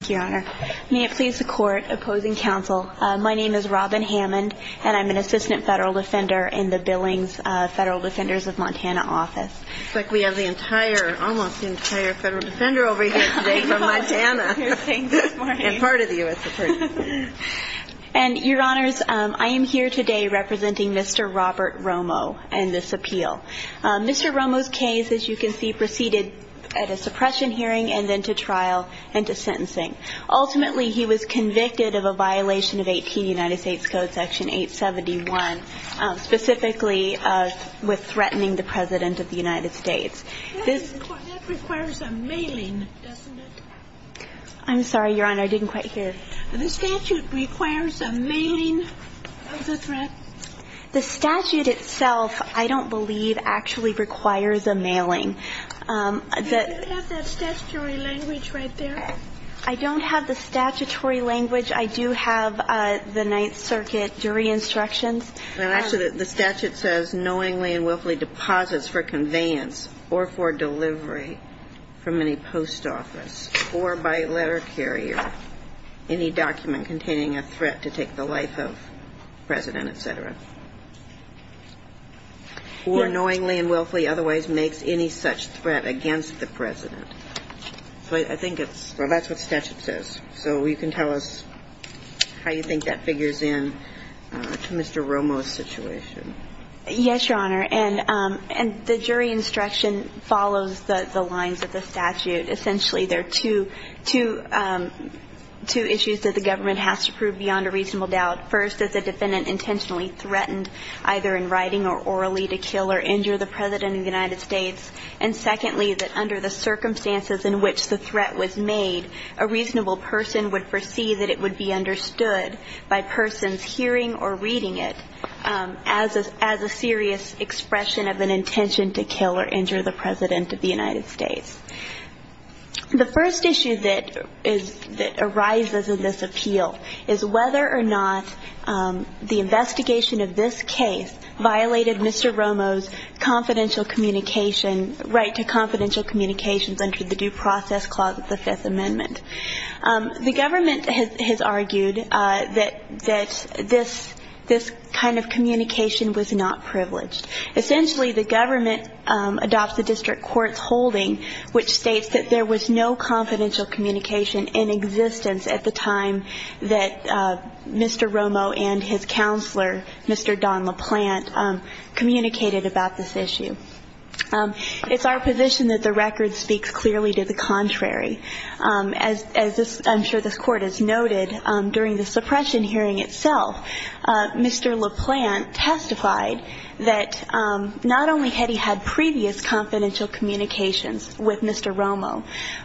Thank you, Your Honor. May it please the Court, opposing counsel, my name is Robin Hammond, and I'm an assistant federal defender in the Billings Federal Defenders of Montana office. It's like we have the entire, almost the entire federal defender over here today from Montana and part of the U.S. Supreme Court. And, Your Honors, I am here today representing Mr. Robert Romo in this appeal. Mr. Romo's case, as you can see, proceeded at a suppression hearing and then to trial and to sentencing. Ultimately, he was convicted of a violation of 18 United States Code, Section 871, specifically with threatening the President of the United States. That requires a mailing, doesn't it? I'm sorry, Your Honor, I didn't quite hear. The statute requires a mailing of the threat? The statute itself, I don't believe, actually requires a mailing. Do you have that statutory language right there? I don't have the statutory language. I do have the Ninth Circuit jury instructions. Actually, the statute says knowingly and willfully deposits for conveyance or for delivery from any post office or by letter carrier any document containing a threat to take the life of the President, et cetera. Or knowingly and willfully otherwise makes any such threat against the President. I think it's – well, that's what the statute says. So you can tell us how you think that figures in to Mr. Romo's situation. Yes, Your Honor. And the jury instruction follows the lines of the statute. Essentially, there are two issues that the government has to prove beyond a reasonable doubt. First, that the defendant intentionally threatened, either in writing or orally, to kill or injure the President of the United States. And secondly, that under the circumstances in which the threat was made, a reasonable person would foresee that it would be understood by persons hearing or reading it as a serious expression of an intention to kill or injure the President of the United States. The first issue that arises in this appeal is whether or not the investigation of this case violated Mr. Romo's confidential communication – right to confidential communications under the Due Process Clause of the Fifth Amendment. The government has argued that this kind of communication was not privileged. Essentially, the government adopts the district court's holding, which states that there was no confidential communication in existence at the time that Mr. Romo and his counselor, Mr. Don LaPlante, communicated about this issue. It's our position that the record speaks clearly to the contrary. As I'm sure this Court has noted, during the suppression hearing itself, Mr. LaPlante testified that not only had he had previous confidential communications with Mr. Romo,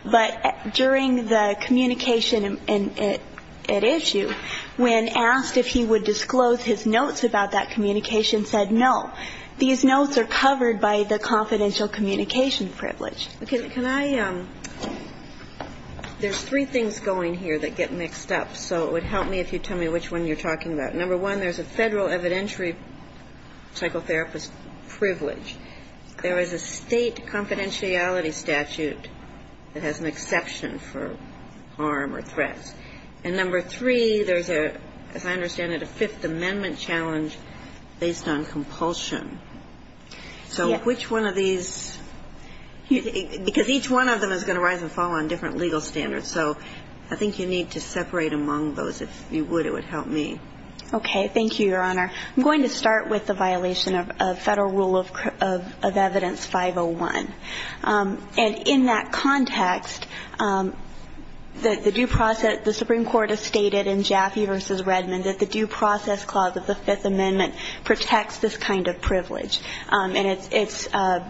but during the communication at issue, when asked if he would disclose his notes about that communication, said no. These notes are covered by the confidential communication privilege. Can I – there's three things going here that get mixed up, so it would help me if you tell me which one you're talking about. Number one, there's a federal evidentiary psychotherapist privilege. There is a state confidentiality statute that has an exception for harm or threats. And number three, there's a, as I understand it, a Fifth Amendment challenge based on compulsion. So which one of these – because each one of them is going to rise and fall on different legal standards, so I think you need to separate among those. If you would, it would help me. Okay. Thank you, Your Honor. I'm going to start with the violation of Federal Rule of Evidence 501. And in that context, the due process – the Supreme Court has stated in Jaffe v. Redmond that the due process clause of the Fifth Amendment protects this kind of privilege. And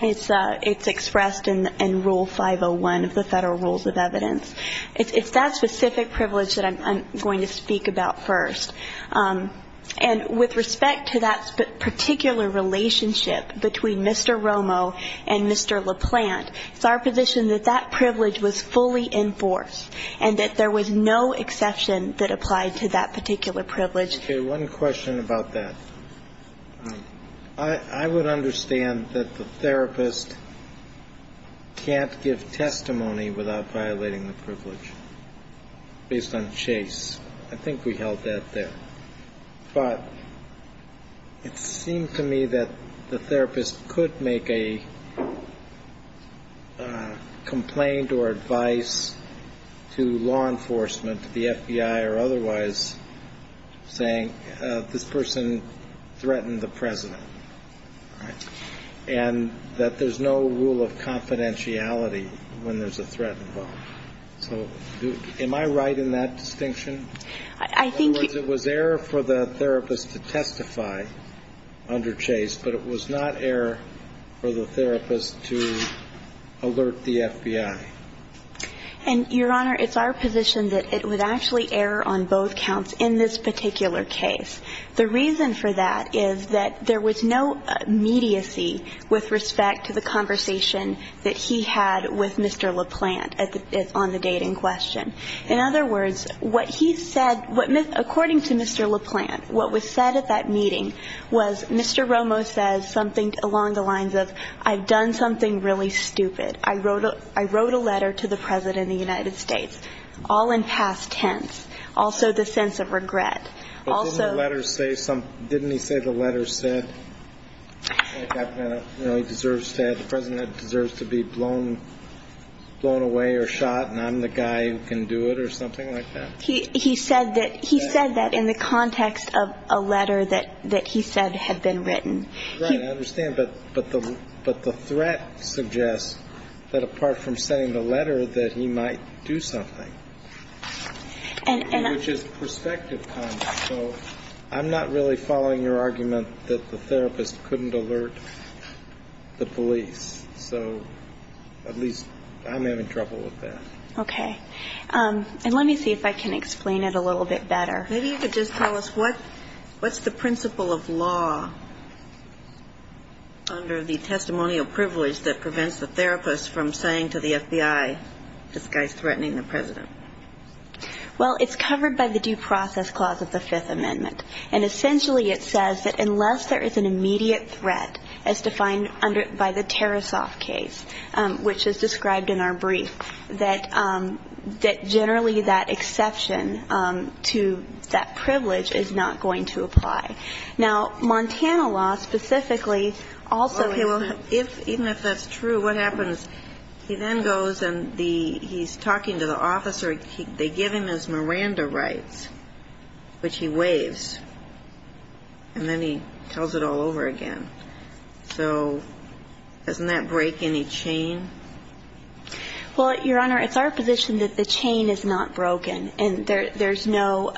it's expressed in Rule 501 of the Federal Rules of Evidence. It's that specific privilege that I'm going to speak about first. And with respect to that particular relationship between Mr. Romo and Mr. LaPlante, it's our position that that privilege was fully enforced and that there was no exception that applied to that particular privilege. Okay. One question about that. I would understand that the therapist can't give testimony without violating the privilege based on Chase. I think we held that there. But it seemed to me that the therapist could make a complaint or advice to law enforcement, to the FBI or otherwise, saying this person threatened the President, right, and that there's no rule of confidentiality when there's a threat involved. So am I right in that distinction? I think you – It was error for the therapist to testify under Chase, but it was not error for the therapist to alert the FBI. And, Your Honor, it's our position that it was actually error on both counts in this particular case. The reason for that is that there was no immediacy with respect to the conversation that he had with Mr. LaPlante on the date in question. In other words, what he said – what – according to Mr. LaPlante, what was said at that meeting was Mr. Romo says something along the lines of, I've done something really stupid. I wrote a letter to the President of the United States, all in past tense. Also the sense of regret. Also – But didn't the letter say some – didn't he say the letter said, The President deserves to be blown away or shot, and I'm the guy who can do it or something like that? He said that in the context of a letter that he said had been written. Right. I understand. But the threat suggests that apart from saying the letter, that he might do something. And I – Which is perspective content. So I'm not really following your argument that the therapist couldn't alert the police. So at least I'm having trouble with that. Okay. And let me see if I can explain it a little bit better. Maybe you could just tell us what's the principle of law under the testimonial privilege that prevents the therapist from saying to the FBI, this guy's threatening the President? Well, it's covered by the due process clause of the Fifth Amendment. And essentially it says that unless there is an immediate threat as defined by the Tarasoff case, which is described in our brief, that generally that exception to that privilege is not going to apply. Now, Montana law specifically also – Okay, well, even if that's true, what happens? He then goes and he's talking to the officer. They give him his Miranda rights, which he waives. And then he tells it all over again. So doesn't that break any chain? Well, Your Honor, it's our position that the chain is not broken and there's no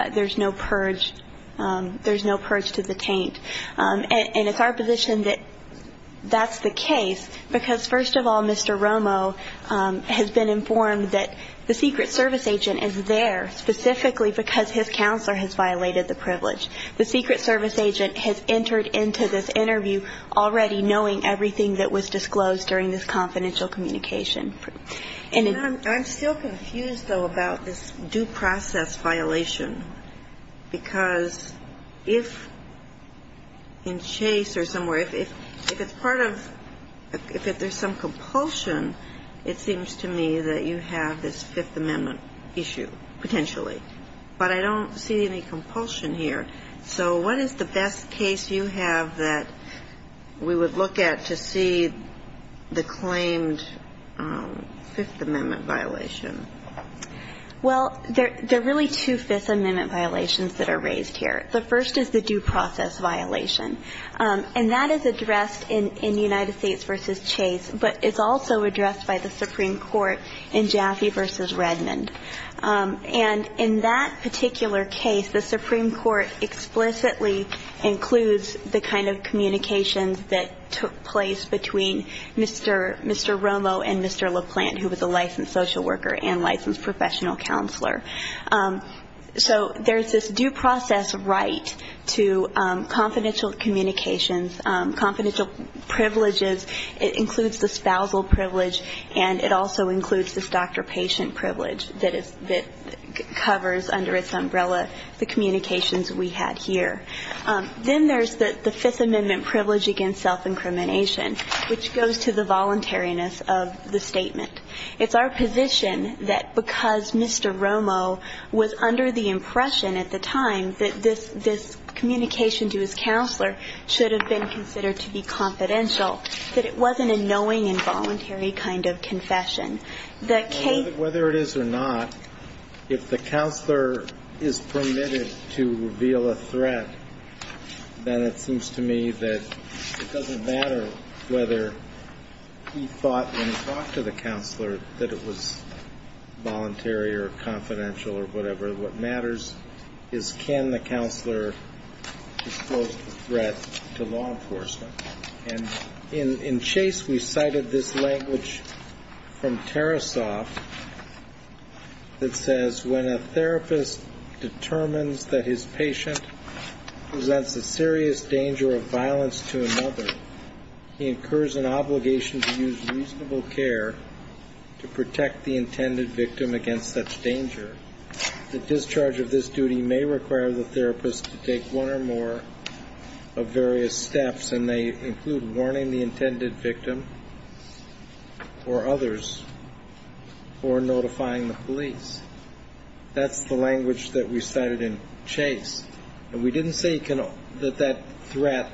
purge to the taint. And it's our position that that's the case because, first of all, Mr. Romo has been informed that the Secret Service agent is there specifically because his counselor has violated the privilege. The Secret Service agent has entered into this interview already knowing everything that was disclosed during this confidential communication. And I'm still confused, though, about this due process violation because if in Chase or somewhere, if it's part of – if there's some compulsion, it seems to me that you have this Fifth Amendment issue potentially. But I don't see any compulsion here. So what is the best case you have that we would look at to see the claimed Fifth Amendment violation? Well, there are really two Fifth Amendment violations that are raised here. The first is the due process violation. And that is addressed in United States v. Chase, but it's also addressed by the Supreme Court in Jaffe v. Redmond. And in that particular case, the Supreme Court explicitly includes the kind of communications that took place between Mr. Romo and Mr. LaPlante, who was a licensed social worker and licensed professional counselor. So there's this due process right to confidential communications, confidential privileges. It includes the spousal privilege, and it also includes this doctor-patient privilege that covers under its umbrella the communications we had here. Then there's the Fifth Amendment privilege against self-incrimination, which goes to the voluntariness of the statement. It's our position that because Mr. Romo was under the impression at the time that this communication to his counselor should have been considered to be confidential, that it wasn't a knowing and voluntary kind of confession. Whether it is or not, if the counselor is permitted to reveal a threat, then it seems to me that it doesn't matter whether he thought when he talked to the counselor that it was voluntary or confidential or whatever. What matters is can the counselor disclose the threat to law enforcement. And in Chase we cited this language from Tarasoff that says, when a therapist determines that his patient presents a serious danger of violence to another, he incurs an obligation to use reasonable care to protect the intended victim against such danger. The discharge of this duty may require the therapist to take one or more of various steps, and they include warning the intended victim or others or notifying the police. That's the language that we cited in Chase. And we didn't say that that threat,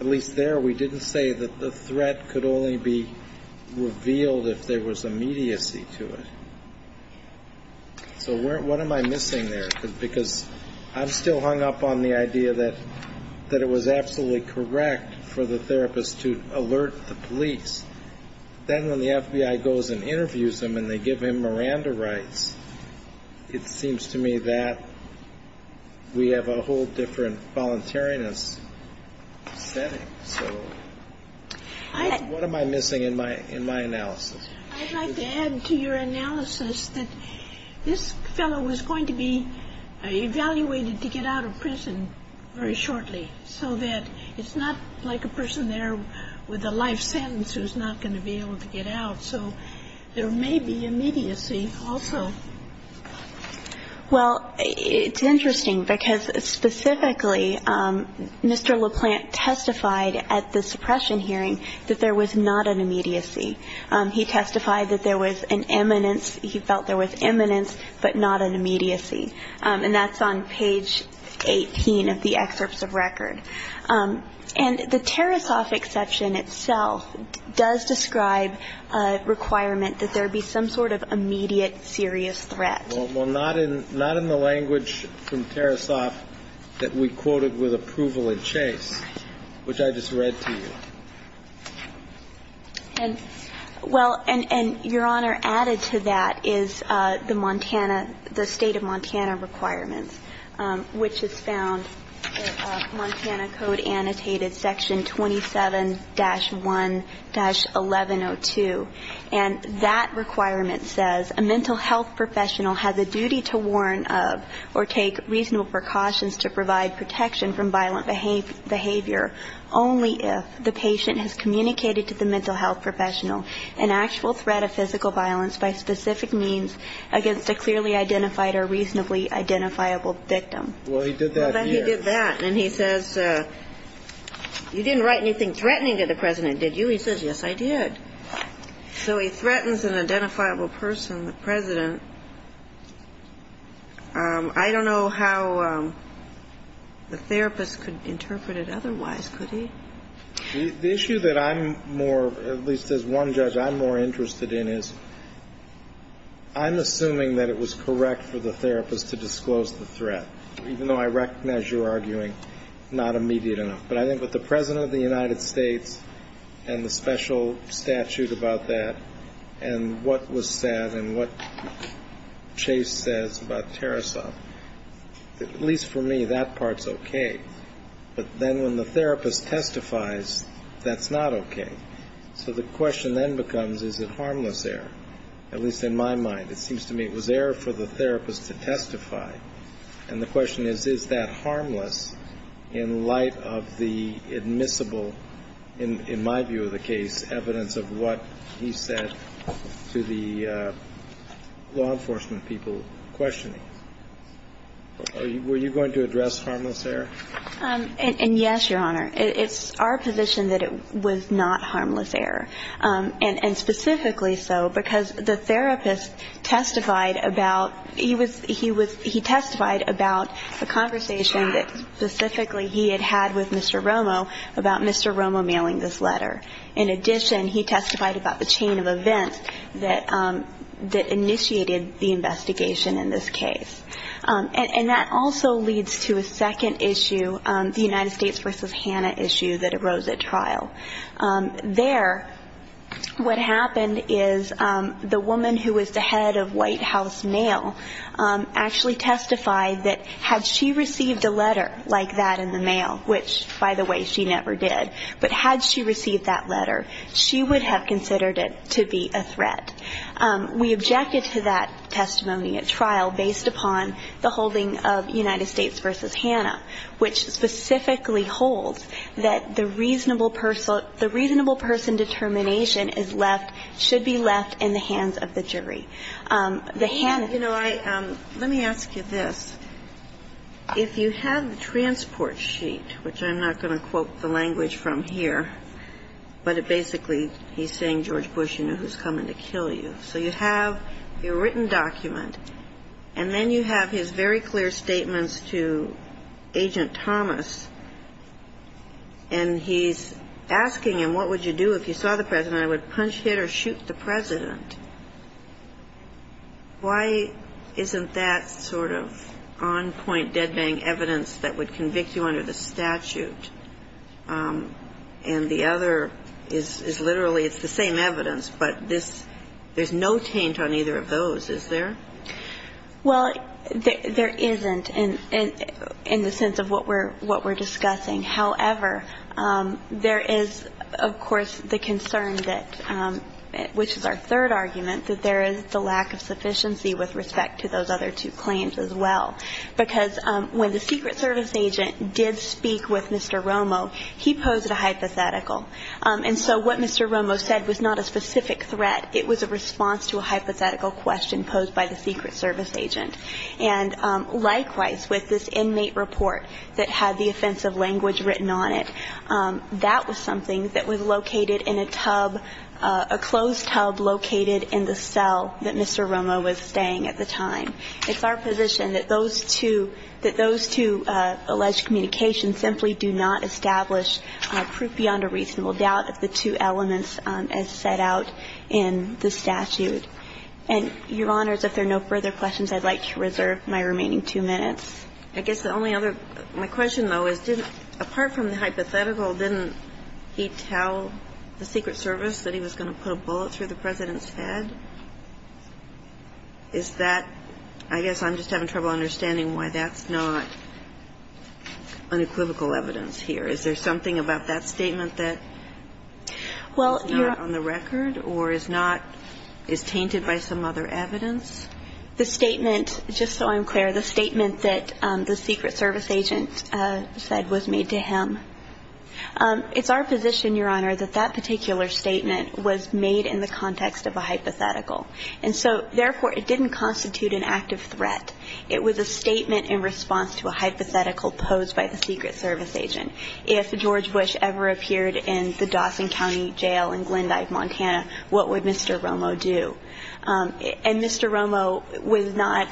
at least there, we didn't say that the threat could only be revealed if there was immediacy to it. So what am I missing there? Because I'm still hung up on the idea that it was absolutely correct for the therapist to alert the police. Then when the FBI goes and interviews him and they give him Miranda rights, it seems to me that we have a whole different voluntariness setting. So what am I missing in my analysis? I'd like to add to your analysis that this fellow was going to be evaluated to get out of prison very shortly, so that it's not like a person there with a life sentence who's not going to be able to get out. So there may be immediacy also. Well, it's interesting because specifically Mr. LaPlante testified at the suppression hearing that there was not an immediacy. He testified that there was an eminence. He felt there was eminence, but not an immediacy. And that's on page 18 of the excerpts of record. And the Tarasoff exception itself does describe a requirement that there be some sort of immediate serious threat. Well, not in the language from Tarasoff that we quoted with approval in Chase, which I just read to you. And, well, and, Your Honor, added to that is the Montana, the State of Montana requirements, which is found in Montana Code Annotated Section 27-1-1102. And that requirement says, A mental health professional has a duty to warn of or take reasonable precautions to provide protection from violent behavior only if the patient has communicated to the mental health professional an actual threat of physical violence by specific means against a clearly identified or reasonably identifiable victim. Well, he did that here. He did that. And he says, you didn't write anything threatening to the President, did you? He says, yes, I did. So he threatens an identifiable person, the President. I don't know how the therapist could interpret it otherwise, could he? The issue that I'm more, at least as one judge, I'm more interested in is I'm assuming that it was correct for the therapist to disclose the threat, even though I recognize you're arguing not immediate enough. But I think with the President of the United States and the special statute about that and what was said and what Chase says about Tarasov, at least for me that part's okay. But then when the therapist testifies, that's not okay. So the question then becomes, is it harmless error? At least in my mind, it seems to me it was error for the therapist to testify. And the question is, is that harmless in light of the admissible, in my view of the case, evidence of what he said to the law enforcement people questioning him? Were you going to address harmless error? And yes, Your Honor. It's our position that it was not harmless error, and specifically so because the therapist testified about, he testified about a conversation that specifically he had had with Mr. Romo about Mr. Romo mailing this letter. In addition, he testified about the chain of events that initiated the investigation in this case. And that also leads to a second issue, the United States v. Hanna issue that arose at trial. There, what happened is the woman who was the head of White House mail actually testified that had she received a letter like that in the mail, which, by the way, she never did, but had she received that letter, she would have considered it to be a threat. We objected to that testimony at trial based upon the holding of United States v. Hanna, which specifically holds that the reasonable person determination is left, should be left in the hands of the jury. The Hanna case. You know, let me ask you this. If you have the transport sheet, which I'm not going to quote the language from here, but it basically he's saying, George Bush, you know who's coming to kill you. So you have your written document, and then you have his very clear statements to Agent Thomas, and he's asking him, what would you do if you saw the President? I would punch, hit or shoot the President. Why isn't that sort of on point dead bang evidence that would convict you under the statute, and the other is literally it's the same evidence, but there's no taint on either of those, is there? Well, there isn't in the sense of what we're discussing. However, there is, of course, the concern that, which is our third argument, that there is the lack of sufficiency with respect to those other two claims as well. Because when the Secret Service agent did speak with Mr. Romo, he posed a hypothetical. And so what Mr. Romo said was not a specific threat. It was a response to a hypothetical question posed by the Secret Service agent. And likewise, with this inmate report that had the offensive language written on it, that was something that was located in a tub, a closed tub located in the cell that Mr. Romo was staying at the time. It's our position that those two alleged communications simply do not establish proof beyond a reasonable doubt of the two elements as set out in the statute. And, Your Honors, if there are no further questions, I'd like to reserve my remaining two minutes. I guess the only other question, though, is didn't, apart from the hypothetical, didn't he tell the Secret Service that he was going to put a bullet through the President's head? Is that, I guess I'm just having trouble understanding why that's not unequivocal evidence here. Is there something about that statement that is not on the record or is not, is tainted by some other evidence? The statement, just so I'm clear, the statement that the Secret Service agent said was made to him, it's our position, Your Honor, that that particular statement was made in the context of a hypothetical. And so, therefore, it didn't constitute an active threat. It was a statement in response to a hypothetical posed by the Secret Service agent. If George Bush ever appeared in the Dawson County Jail in Glendive, Montana, what would Mr. Romo do? And Mr. Romo was not,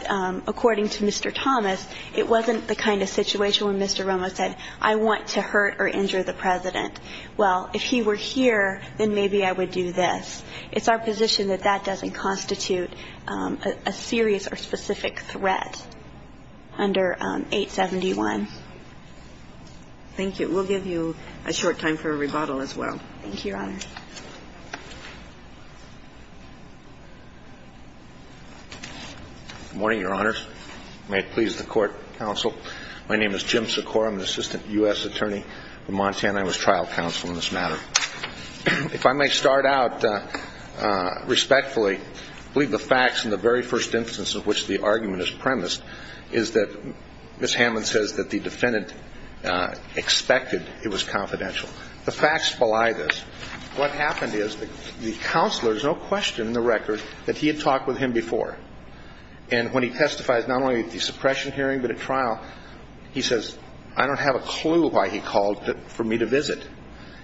according to Mr. Thomas, it wasn't the kind of situation where Mr. Romo said, I want to hurt or injure the President. Well, if he were here, then maybe I would do this. It's our position that that doesn't constitute a serious or specific threat under 871. Thank you. We'll give you a short time for a rebuttal as well. Thank you, Your Honor. Good morning, Your Honors. May it please the Court, Counsel. My name is Jim Secora. I'm the Assistant U.S. Attorney for Montana. I was trial counsel in this matter. If I may start out respectfully, I believe the facts in the very first instance of which the argument is premised is that Ms. Hammond says that the defendant expected it was confidential. The facts belie this. What happened is the counselor is no question in the record that he had talked with him before. And when he testifies not only at the suppression hearing but at trial, he says, I don't have a clue why he called for me to visit.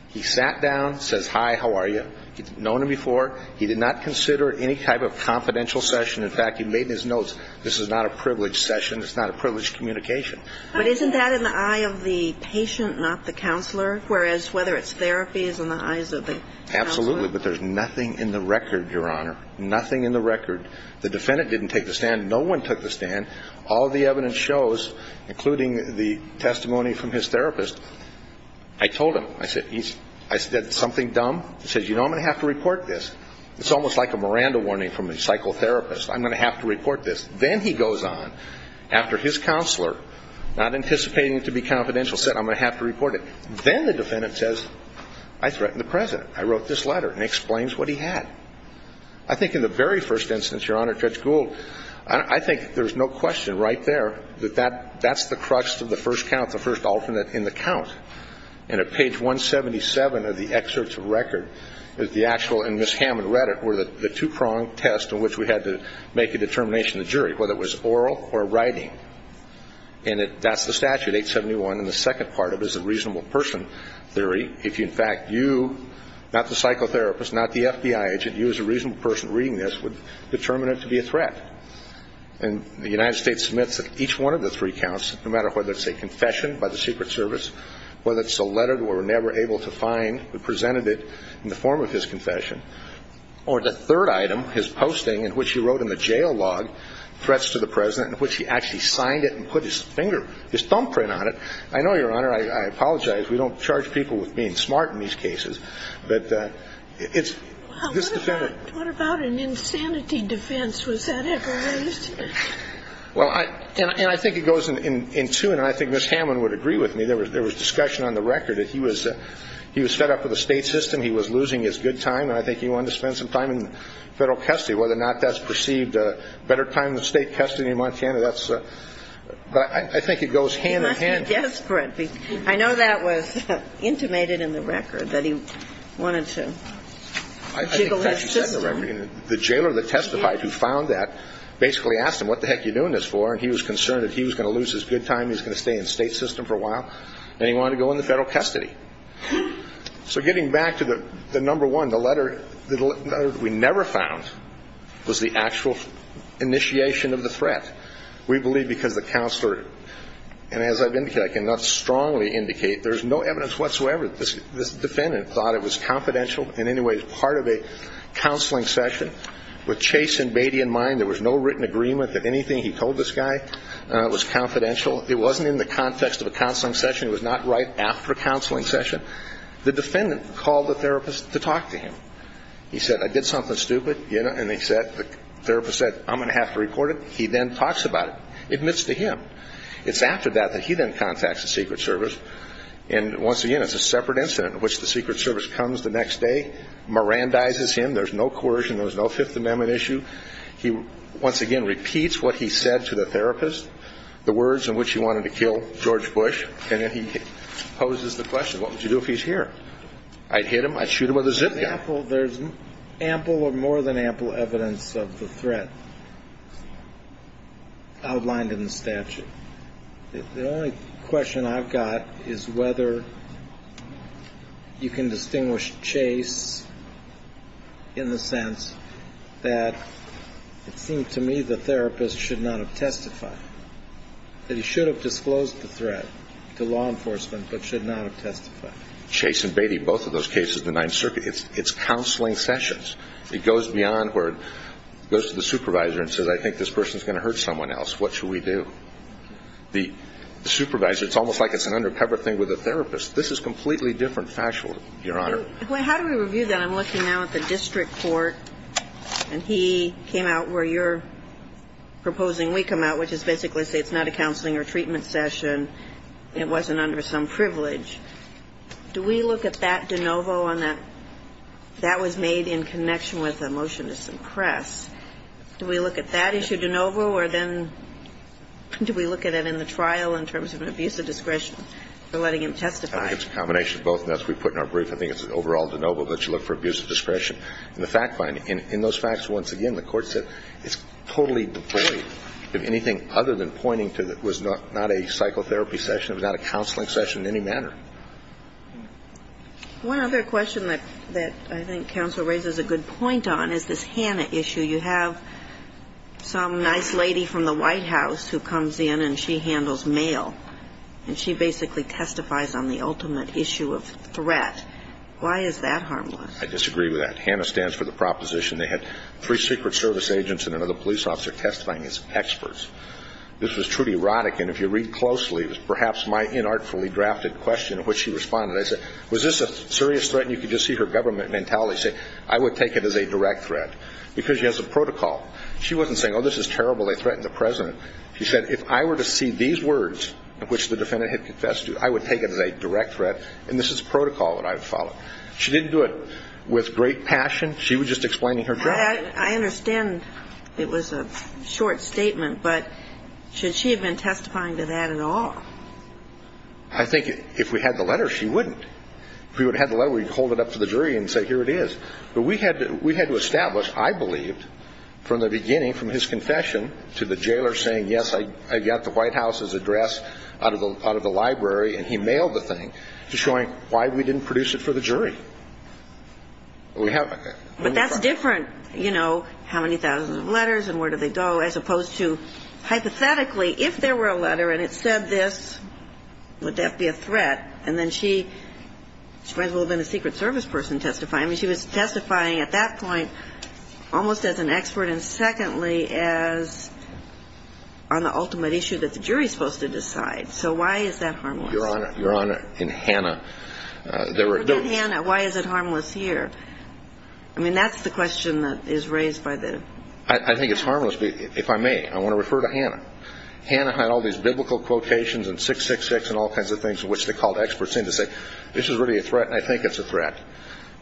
He sat down, says, hi, how are you. He'd known him before. He did not consider any type of confidential session. In fact, he made his notes, this is not a privileged session. It's not a privileged communication. But isn't that in the eye of the patient, not the counselor, whereas whether it's therapy is in the eyes of the counselor? Absolutely. But there's nothing in the record, Your Honor. Nothing in the record. The defendant didn't take the stand. No one took the stand. All the evidence shows, including the testimony from his therapist, I told him. I said, is that something dumb? He says, you know, I'm going to have to report this. It's almost like a Miranda warning from a psychotherapist. I'm going to have to report this. Then he goes on, after his counselor, not anticipating it to be confidential, said, I'm going to have to report it. Then the defendant says, I threatened the President. I wrote this letter. And he explains what he had. I think in the very first instance, Your Honor, Judge Gould, I think there's no question right there that that's the crux of the first count, the first alternate in the count. And at page 177 of the excerpts of record, the actual, and Ms. Hammond read it, were the two-pronged test in which we had to make a determination to the jury, whether it was oral or writing. And that's the statute, 871. And the second part of it is the reasonable person theory. If, in fact, you, not the psychotherapist, not the FBI agent, you as a reasonable person reading this would determine it to be a threat. And the United States submits each one of the three counts, no matter whether it's a confession by the Secret Service, whether it's a letter we were never able to find who presented it in the form of his confession, or the third item, his posting in which he wrote in the jail log threats to the President, in which he actually signed it and put his finger, his thumbprint on it. I know, Your Honor, I apologize. We don't charge people with being smart in these cases. But it's this defendant. What about an insanity defense? Was that ever raised? Well, and I think it goes in tune, and I think Ms. Hammond would agree with me. There was discussion on the record that he was fed up with the state system. He was losing his good time. And I think he wanted to spend some time in federal custody. Whether or not that's perceived better time than state custody in Montana, that's a – but I think it goes hand in hand. He must be desperate. I know that was intimated in the record that he wanted to jiggle his system. I think that's what he said in the record. The jailer that testified who found that basically asked him, what the heck are you doing this for, and he was concerned that he was going to lose his good time, he was going to stay in the state system for a while, and he wanted to go into federal custody. So getting back to the number one, the letter that we never found was the actual initiation of the threat. We believe because the counselor – and as I've indicated, I cannot strongly indicate, there's no evidence whatsoever that this defendant thought it was confidential. In any way, as part of a counseling session, with Chase and Beatty in mind, there was no written agreement that anything he told this guy was confidential. It wasn't in the context of a counseling session. It was not right after a counseling session. The defendant called the therapist to talk to him. He said, I did something stupid, you know, and the therapist said, I'm going to have to report it. He then talks about it, admits to him. It's after that that he then contacts the Secret Service, and once again, it's a separate incident, which the Secret Service comes the next day, mirandizes him. There's no coercion. There's no Fifth Amendment issue. He once again repeats what he said to the therapist, the words in which he wanted to kill George Bush, and then he poses the question, what would you do if he's here? I'd hit him. I'd shoot him with a zip gun. There's ample or more than ample evidence of the threat outlined in the statute. The only question I've got is whether you can distinguish Chase in the sense that it seemed to me the therapist should not have testified, that he should have disclosed the threat to law enforcement but should not have testified. Chase and Beatty, both of those cases, the Ninth Circuit, it's counseling sessions. It goes beyond where it goes to the supervisor and says, I think this person is going to hurt someone else. What should we do? The supervisor, it's almost like it's an undercover thing with a therapist. This is completely different factual, Your Honor. How do we review that? I'm looking now at the district court, and he came out where you're proposing we come out, which is basically say it's not a counseling or treatment session. It wasn't under some privilege. Do we look at that de novo on that? That was made in connection with a motion to suppress. Do we look at that issue de novo, or then do we look at it in the trial in terms of an abuse of discretion for letting him testify? I think it's a combination of both, and that's what we put in our brief. I think it's an overall de novo that you look for abuse of discretion. And the fact finding, in those facts, once again, the court said it's totally devoid of anything other than pointing to it was not a psychotherapy session, it was not a counseling session in any manner. One other question that I think counsel raises a good point on is this Hanna issue. You have some nice lady from the White House who comes in and she handles mail, and she basically testifies on the ultimate issue of threat. Why is that harmless? I disagree with that. Hanna stands for the proposition they had three Secret Service agents and another police officer testifying as experts. This was truly erotic, and if you read closely, it was perhaps my inartfully drafted question in which she responded. I said, was this a serious threat? And you could just see her government mentality say, I would take it as a direct threat, because she has a protocol. She wasn't saying, oh, this is terrible, they threatened the president. She said, if I were to see these words, which the defendant had confessed to, I would take it as a direct threat, and this is protocol that I would follow. She didn't do it with great passion. She was just explaining her job. I understand it was a short statement, but should she have been testifying to that at all? I think if we had the letter, she wouldn't. If we would have had the letter, we would hold it up to the jury and say, here it is. But we had to establish, I believe, from the beginning, from his confession to the jailer saying, yes, I got the White House's address out of the library, and he mailed the thing, to showing why we didn't produce it for the jury. We have that. But that's different, you know, how many thousands of letters and where do they go, as opposed to hypothetically, if there were a letter and it said this, would that be a threat? And then she might as well have been a Secret Service person testifying. I mean, she was testifying at that point almost as an expert and, secondly, as on the ultimate issue that the jury is supposed to decide. So why is that harmless? Your Honor, in Hannah, there were no – Why is it harmless here? I mean, that's the question that is raised by the – I think it's harmless. If I may, I want to refer to Hannah. Hannah had all these biblical quotations in 666 and all kinds of things, which they called experts in to say, this is really a threat and I think it's a threat.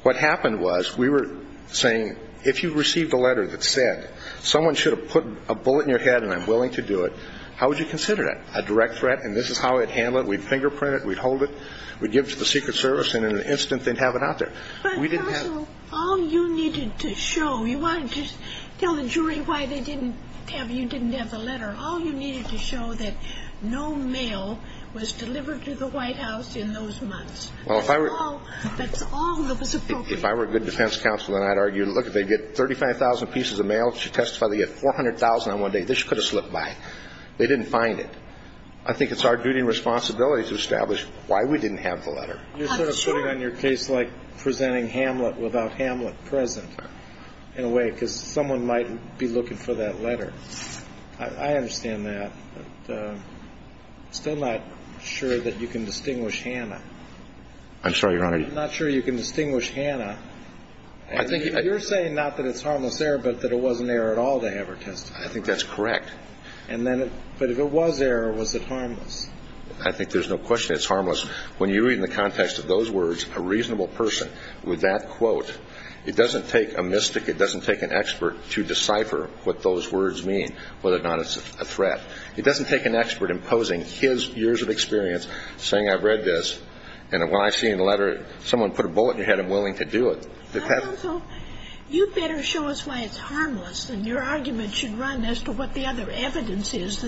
What happened was we were saying, if you received a letter that said, someone should have put a bullet in your head and I'm willing to do it, how would you consider that? A direct threat. And this is how we'd handle it. We'd fingerprint it. We'd hold it. We'd give it to the Secret Service and in an instant they'd have it out there. But, counsel, all you needed to show – you wanted to tell the jury why they didn't have – you didn't have the letter. All you needed to show that no mail was delivered to the White House in those months. Well, if I were – That's all that was appropriate. If I were a good defense counsel, then I'd argue, look, if they get 35,000 pieces of mail, if she testified they get 400,000 on one day, this could have slipped by. They didn't find it. I think it's our duty and responsibility to establish why we didn't have the letter. You're sort of putting on your case like presenting Hamlet without Hamlet present in a way because someone might be looking for that letter. I understand that. But I'm still not sure that you can distinguish Hannah. I'm sorry, Your Honor. I'm not sure you can distinguish Hannah. I think – You're saying not that it's harmless error but that it wasn't error at all to have her testify. I think that's correct. But if it was error, was it harmless? I think there's no question it's harmless. When you read in the context of those words a reasonable person with that quote, it doesn't take a mystic, it doesn't take an expert to decipher what those words mean, whether or not it's a threat. It doesn't take an expert imposing his years of experience saying I've read this and when I see in the letter someone put a bullet in your head, I'm willing to do it. I don't know. You better show us why it's harmless and your argument should run as to what the other evidence is.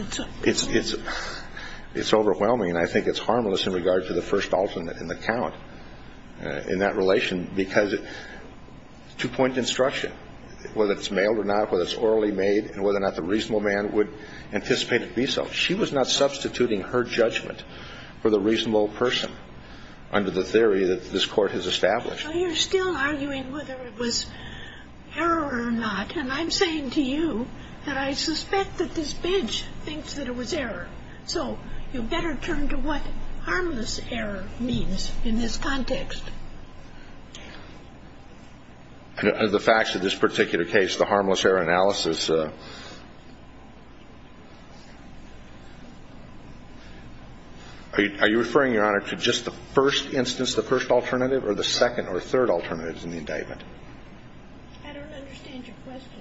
It's overwhelming and I think it's harmless in regard to the first alternate in the count in that relation because two-point instruction, whether it's mailed or not, whether it's orally made and whether or not the reasonable man would anticipate it to be so. She was not substituting her judgment for the reasonable person under the theory that this Court has established. So you're still arguing whether it was error or not. And I'm saying to you that I suspect that this bench thinks that it was error. So you better turn to what harmless error means in this context. The facts of this particular case, the harmless error analysis. Are you referring, Your Honor, to just the first instance, the first alternative or the second or third alternative in the indictment? I don't understand your question.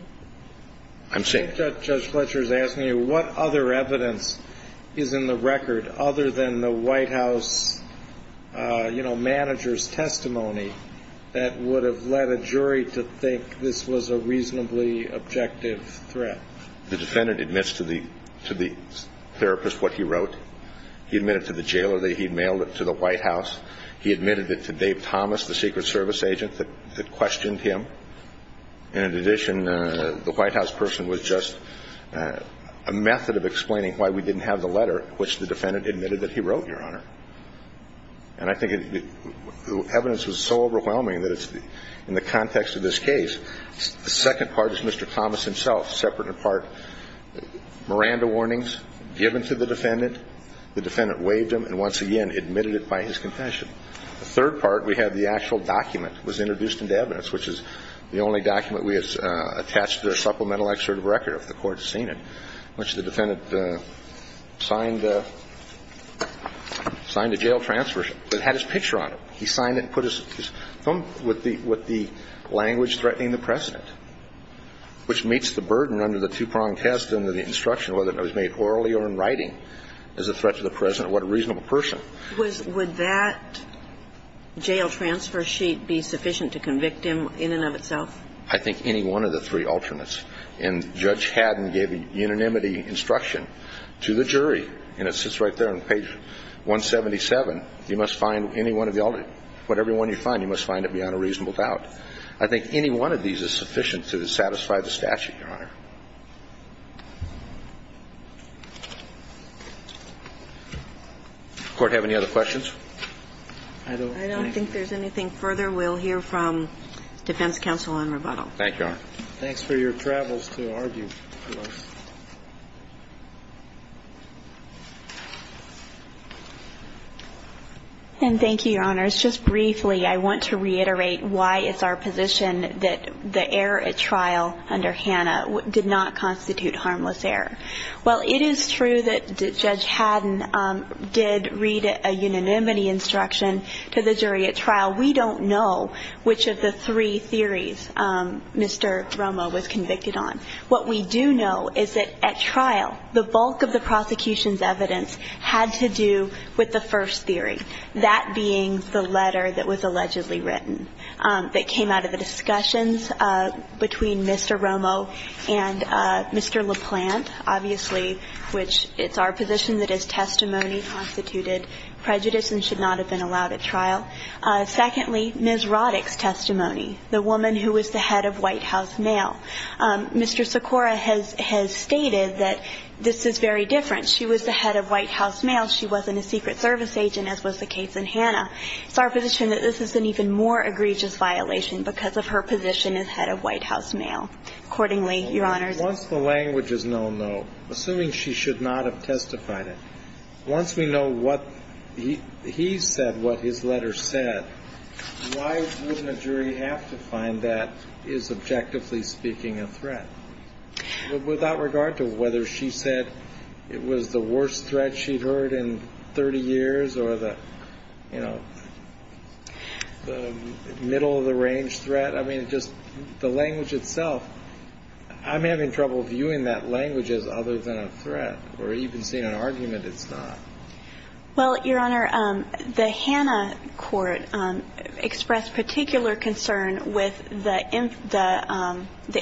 I'm saying. Judge Fletcher is asking you what other evidence is in the record other than the White House, you know, manager's testimony that would have led a jury to think this was a reasonably objective case. The defendant admits to the therapist what he wrote. He admitted to the jailer that he had mailed it to the White House. He admitted it to Dave Thomas, the Secret Service agent, that questioned him. And in addition, the White House person was just a method of explaining why we didn't have the letter, which the defendant admitted that he wrote, Your Honor. And I think the evidence was so overwhelming that it's in the context of this case. The second part is Mr. Thomas himself. Separate in part Miranda warnings given to the defendant. The defendant waived them and once again admitted it by his confession. The third part, we have the actual document was introduced into evidence, which is the only document we have attached to a supplemental excerpt of record, if the Court has seen it, which the defendant signed a jail transfer, but it had his picture on it. He signed it and put his thumb with the language threatening the precedent, which meets the burden under the two-prong test under the instruction, whether it was made orally or in writing, as a threat to the President. What a reasonable person. Would that jail transfer sheet be sufficient to convict him in and of itself? I think any one of the three alternates. And Judge Haddon gave unanimity instruction to the jury, and it sits right there on page 177. You must find any one of the alternate. Whatever one you find, you must find it beyond a reasonable doubt. I think any one of these is sufficient to satisfy the statute, Your Honor. Does the Court have any other questions? I don't think there's anything further. We'll hear from Defense Counsel on rebuttal. Thank you, Your Honor. Thanks for your travels to argue for us. And thank you, Your Honors. Just briefly, I want to reiterate why it's our position that the error at trial under Hanna did not constitute harmless error. While it is true that Judge Haddon did read a unanimity instruction to the jury at trial, we don't know which of the three theories Mr. Romo was convicted on. What we do know is that at trial, the bulk of the prosecution's evidence had to do with the first theory, that being the letter that was allegedly written that came out of the discussions between Mr. Romo and Mr. LaPlante, obviously, which it's our position that his testimony constituted prejudice and should not have been allowed at trial. Secondly, Ms. Roddick's testimony, the woman who was the head of White House Mail. Mr. Sikora has stated that this is very different. She was the head of White House Mail. She wasn't a Secret Service agent, as was the case in Hanna. It's our position that this is an even more egregious violation because of her position as head of White House Mail. Accordingly, Your Honors, Once the language is known, though, assuming she should not have testified it, once we know what he said, what his letter said, why wouldn't a jury have to find that is, objectively speaking, a threat? Without regard to whether she said it was the worst threat she'd heard in 30 years or the, you know, the middle-of-the-range threat, I mean, just the language itself, I'm having trouble viewing that language as other than a threat or even seeing an argument it's not. Well, Your Honor, the Hanna court expressed particular concern with the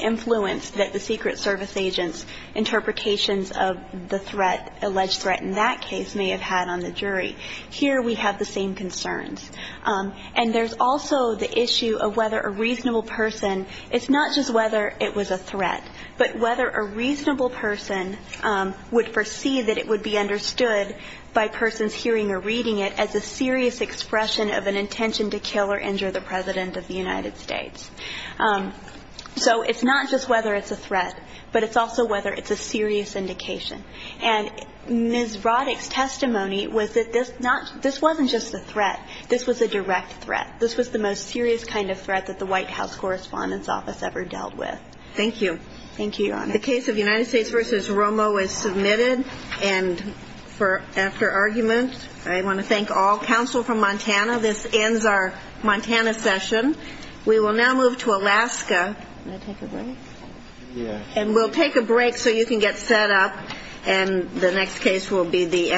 influence that the Secret Service agent's interpretations of the threat, alleged threat in that case, may have had on the jury. Here we have the same concerns. And there's also the issue of whether a reasonable person, it's not just whether it was a threat, but whether a reasonable person would foresee that it would be understood by persons hearing or reading it as a serious expression of an intention to kill or injure the President of the United States. So it's not just whether it's a threat, but it's also whether it's a serious indication. And Ms. Roddick's testimony was that this wasn't just a threat. This was a direct threat. This was the most serious kind of threat that the White House Correspondence Office ever dealt with. Thank you. Thank you, Your Honor. The case of United States v. Romo is submitted. And for after argument, I want to thank all counsel from Montana. This ends our Montana session. We will now move to Alaska. Can I take a break? Yes. And we'll take a break so you can get set up. And the next case will be the NRA.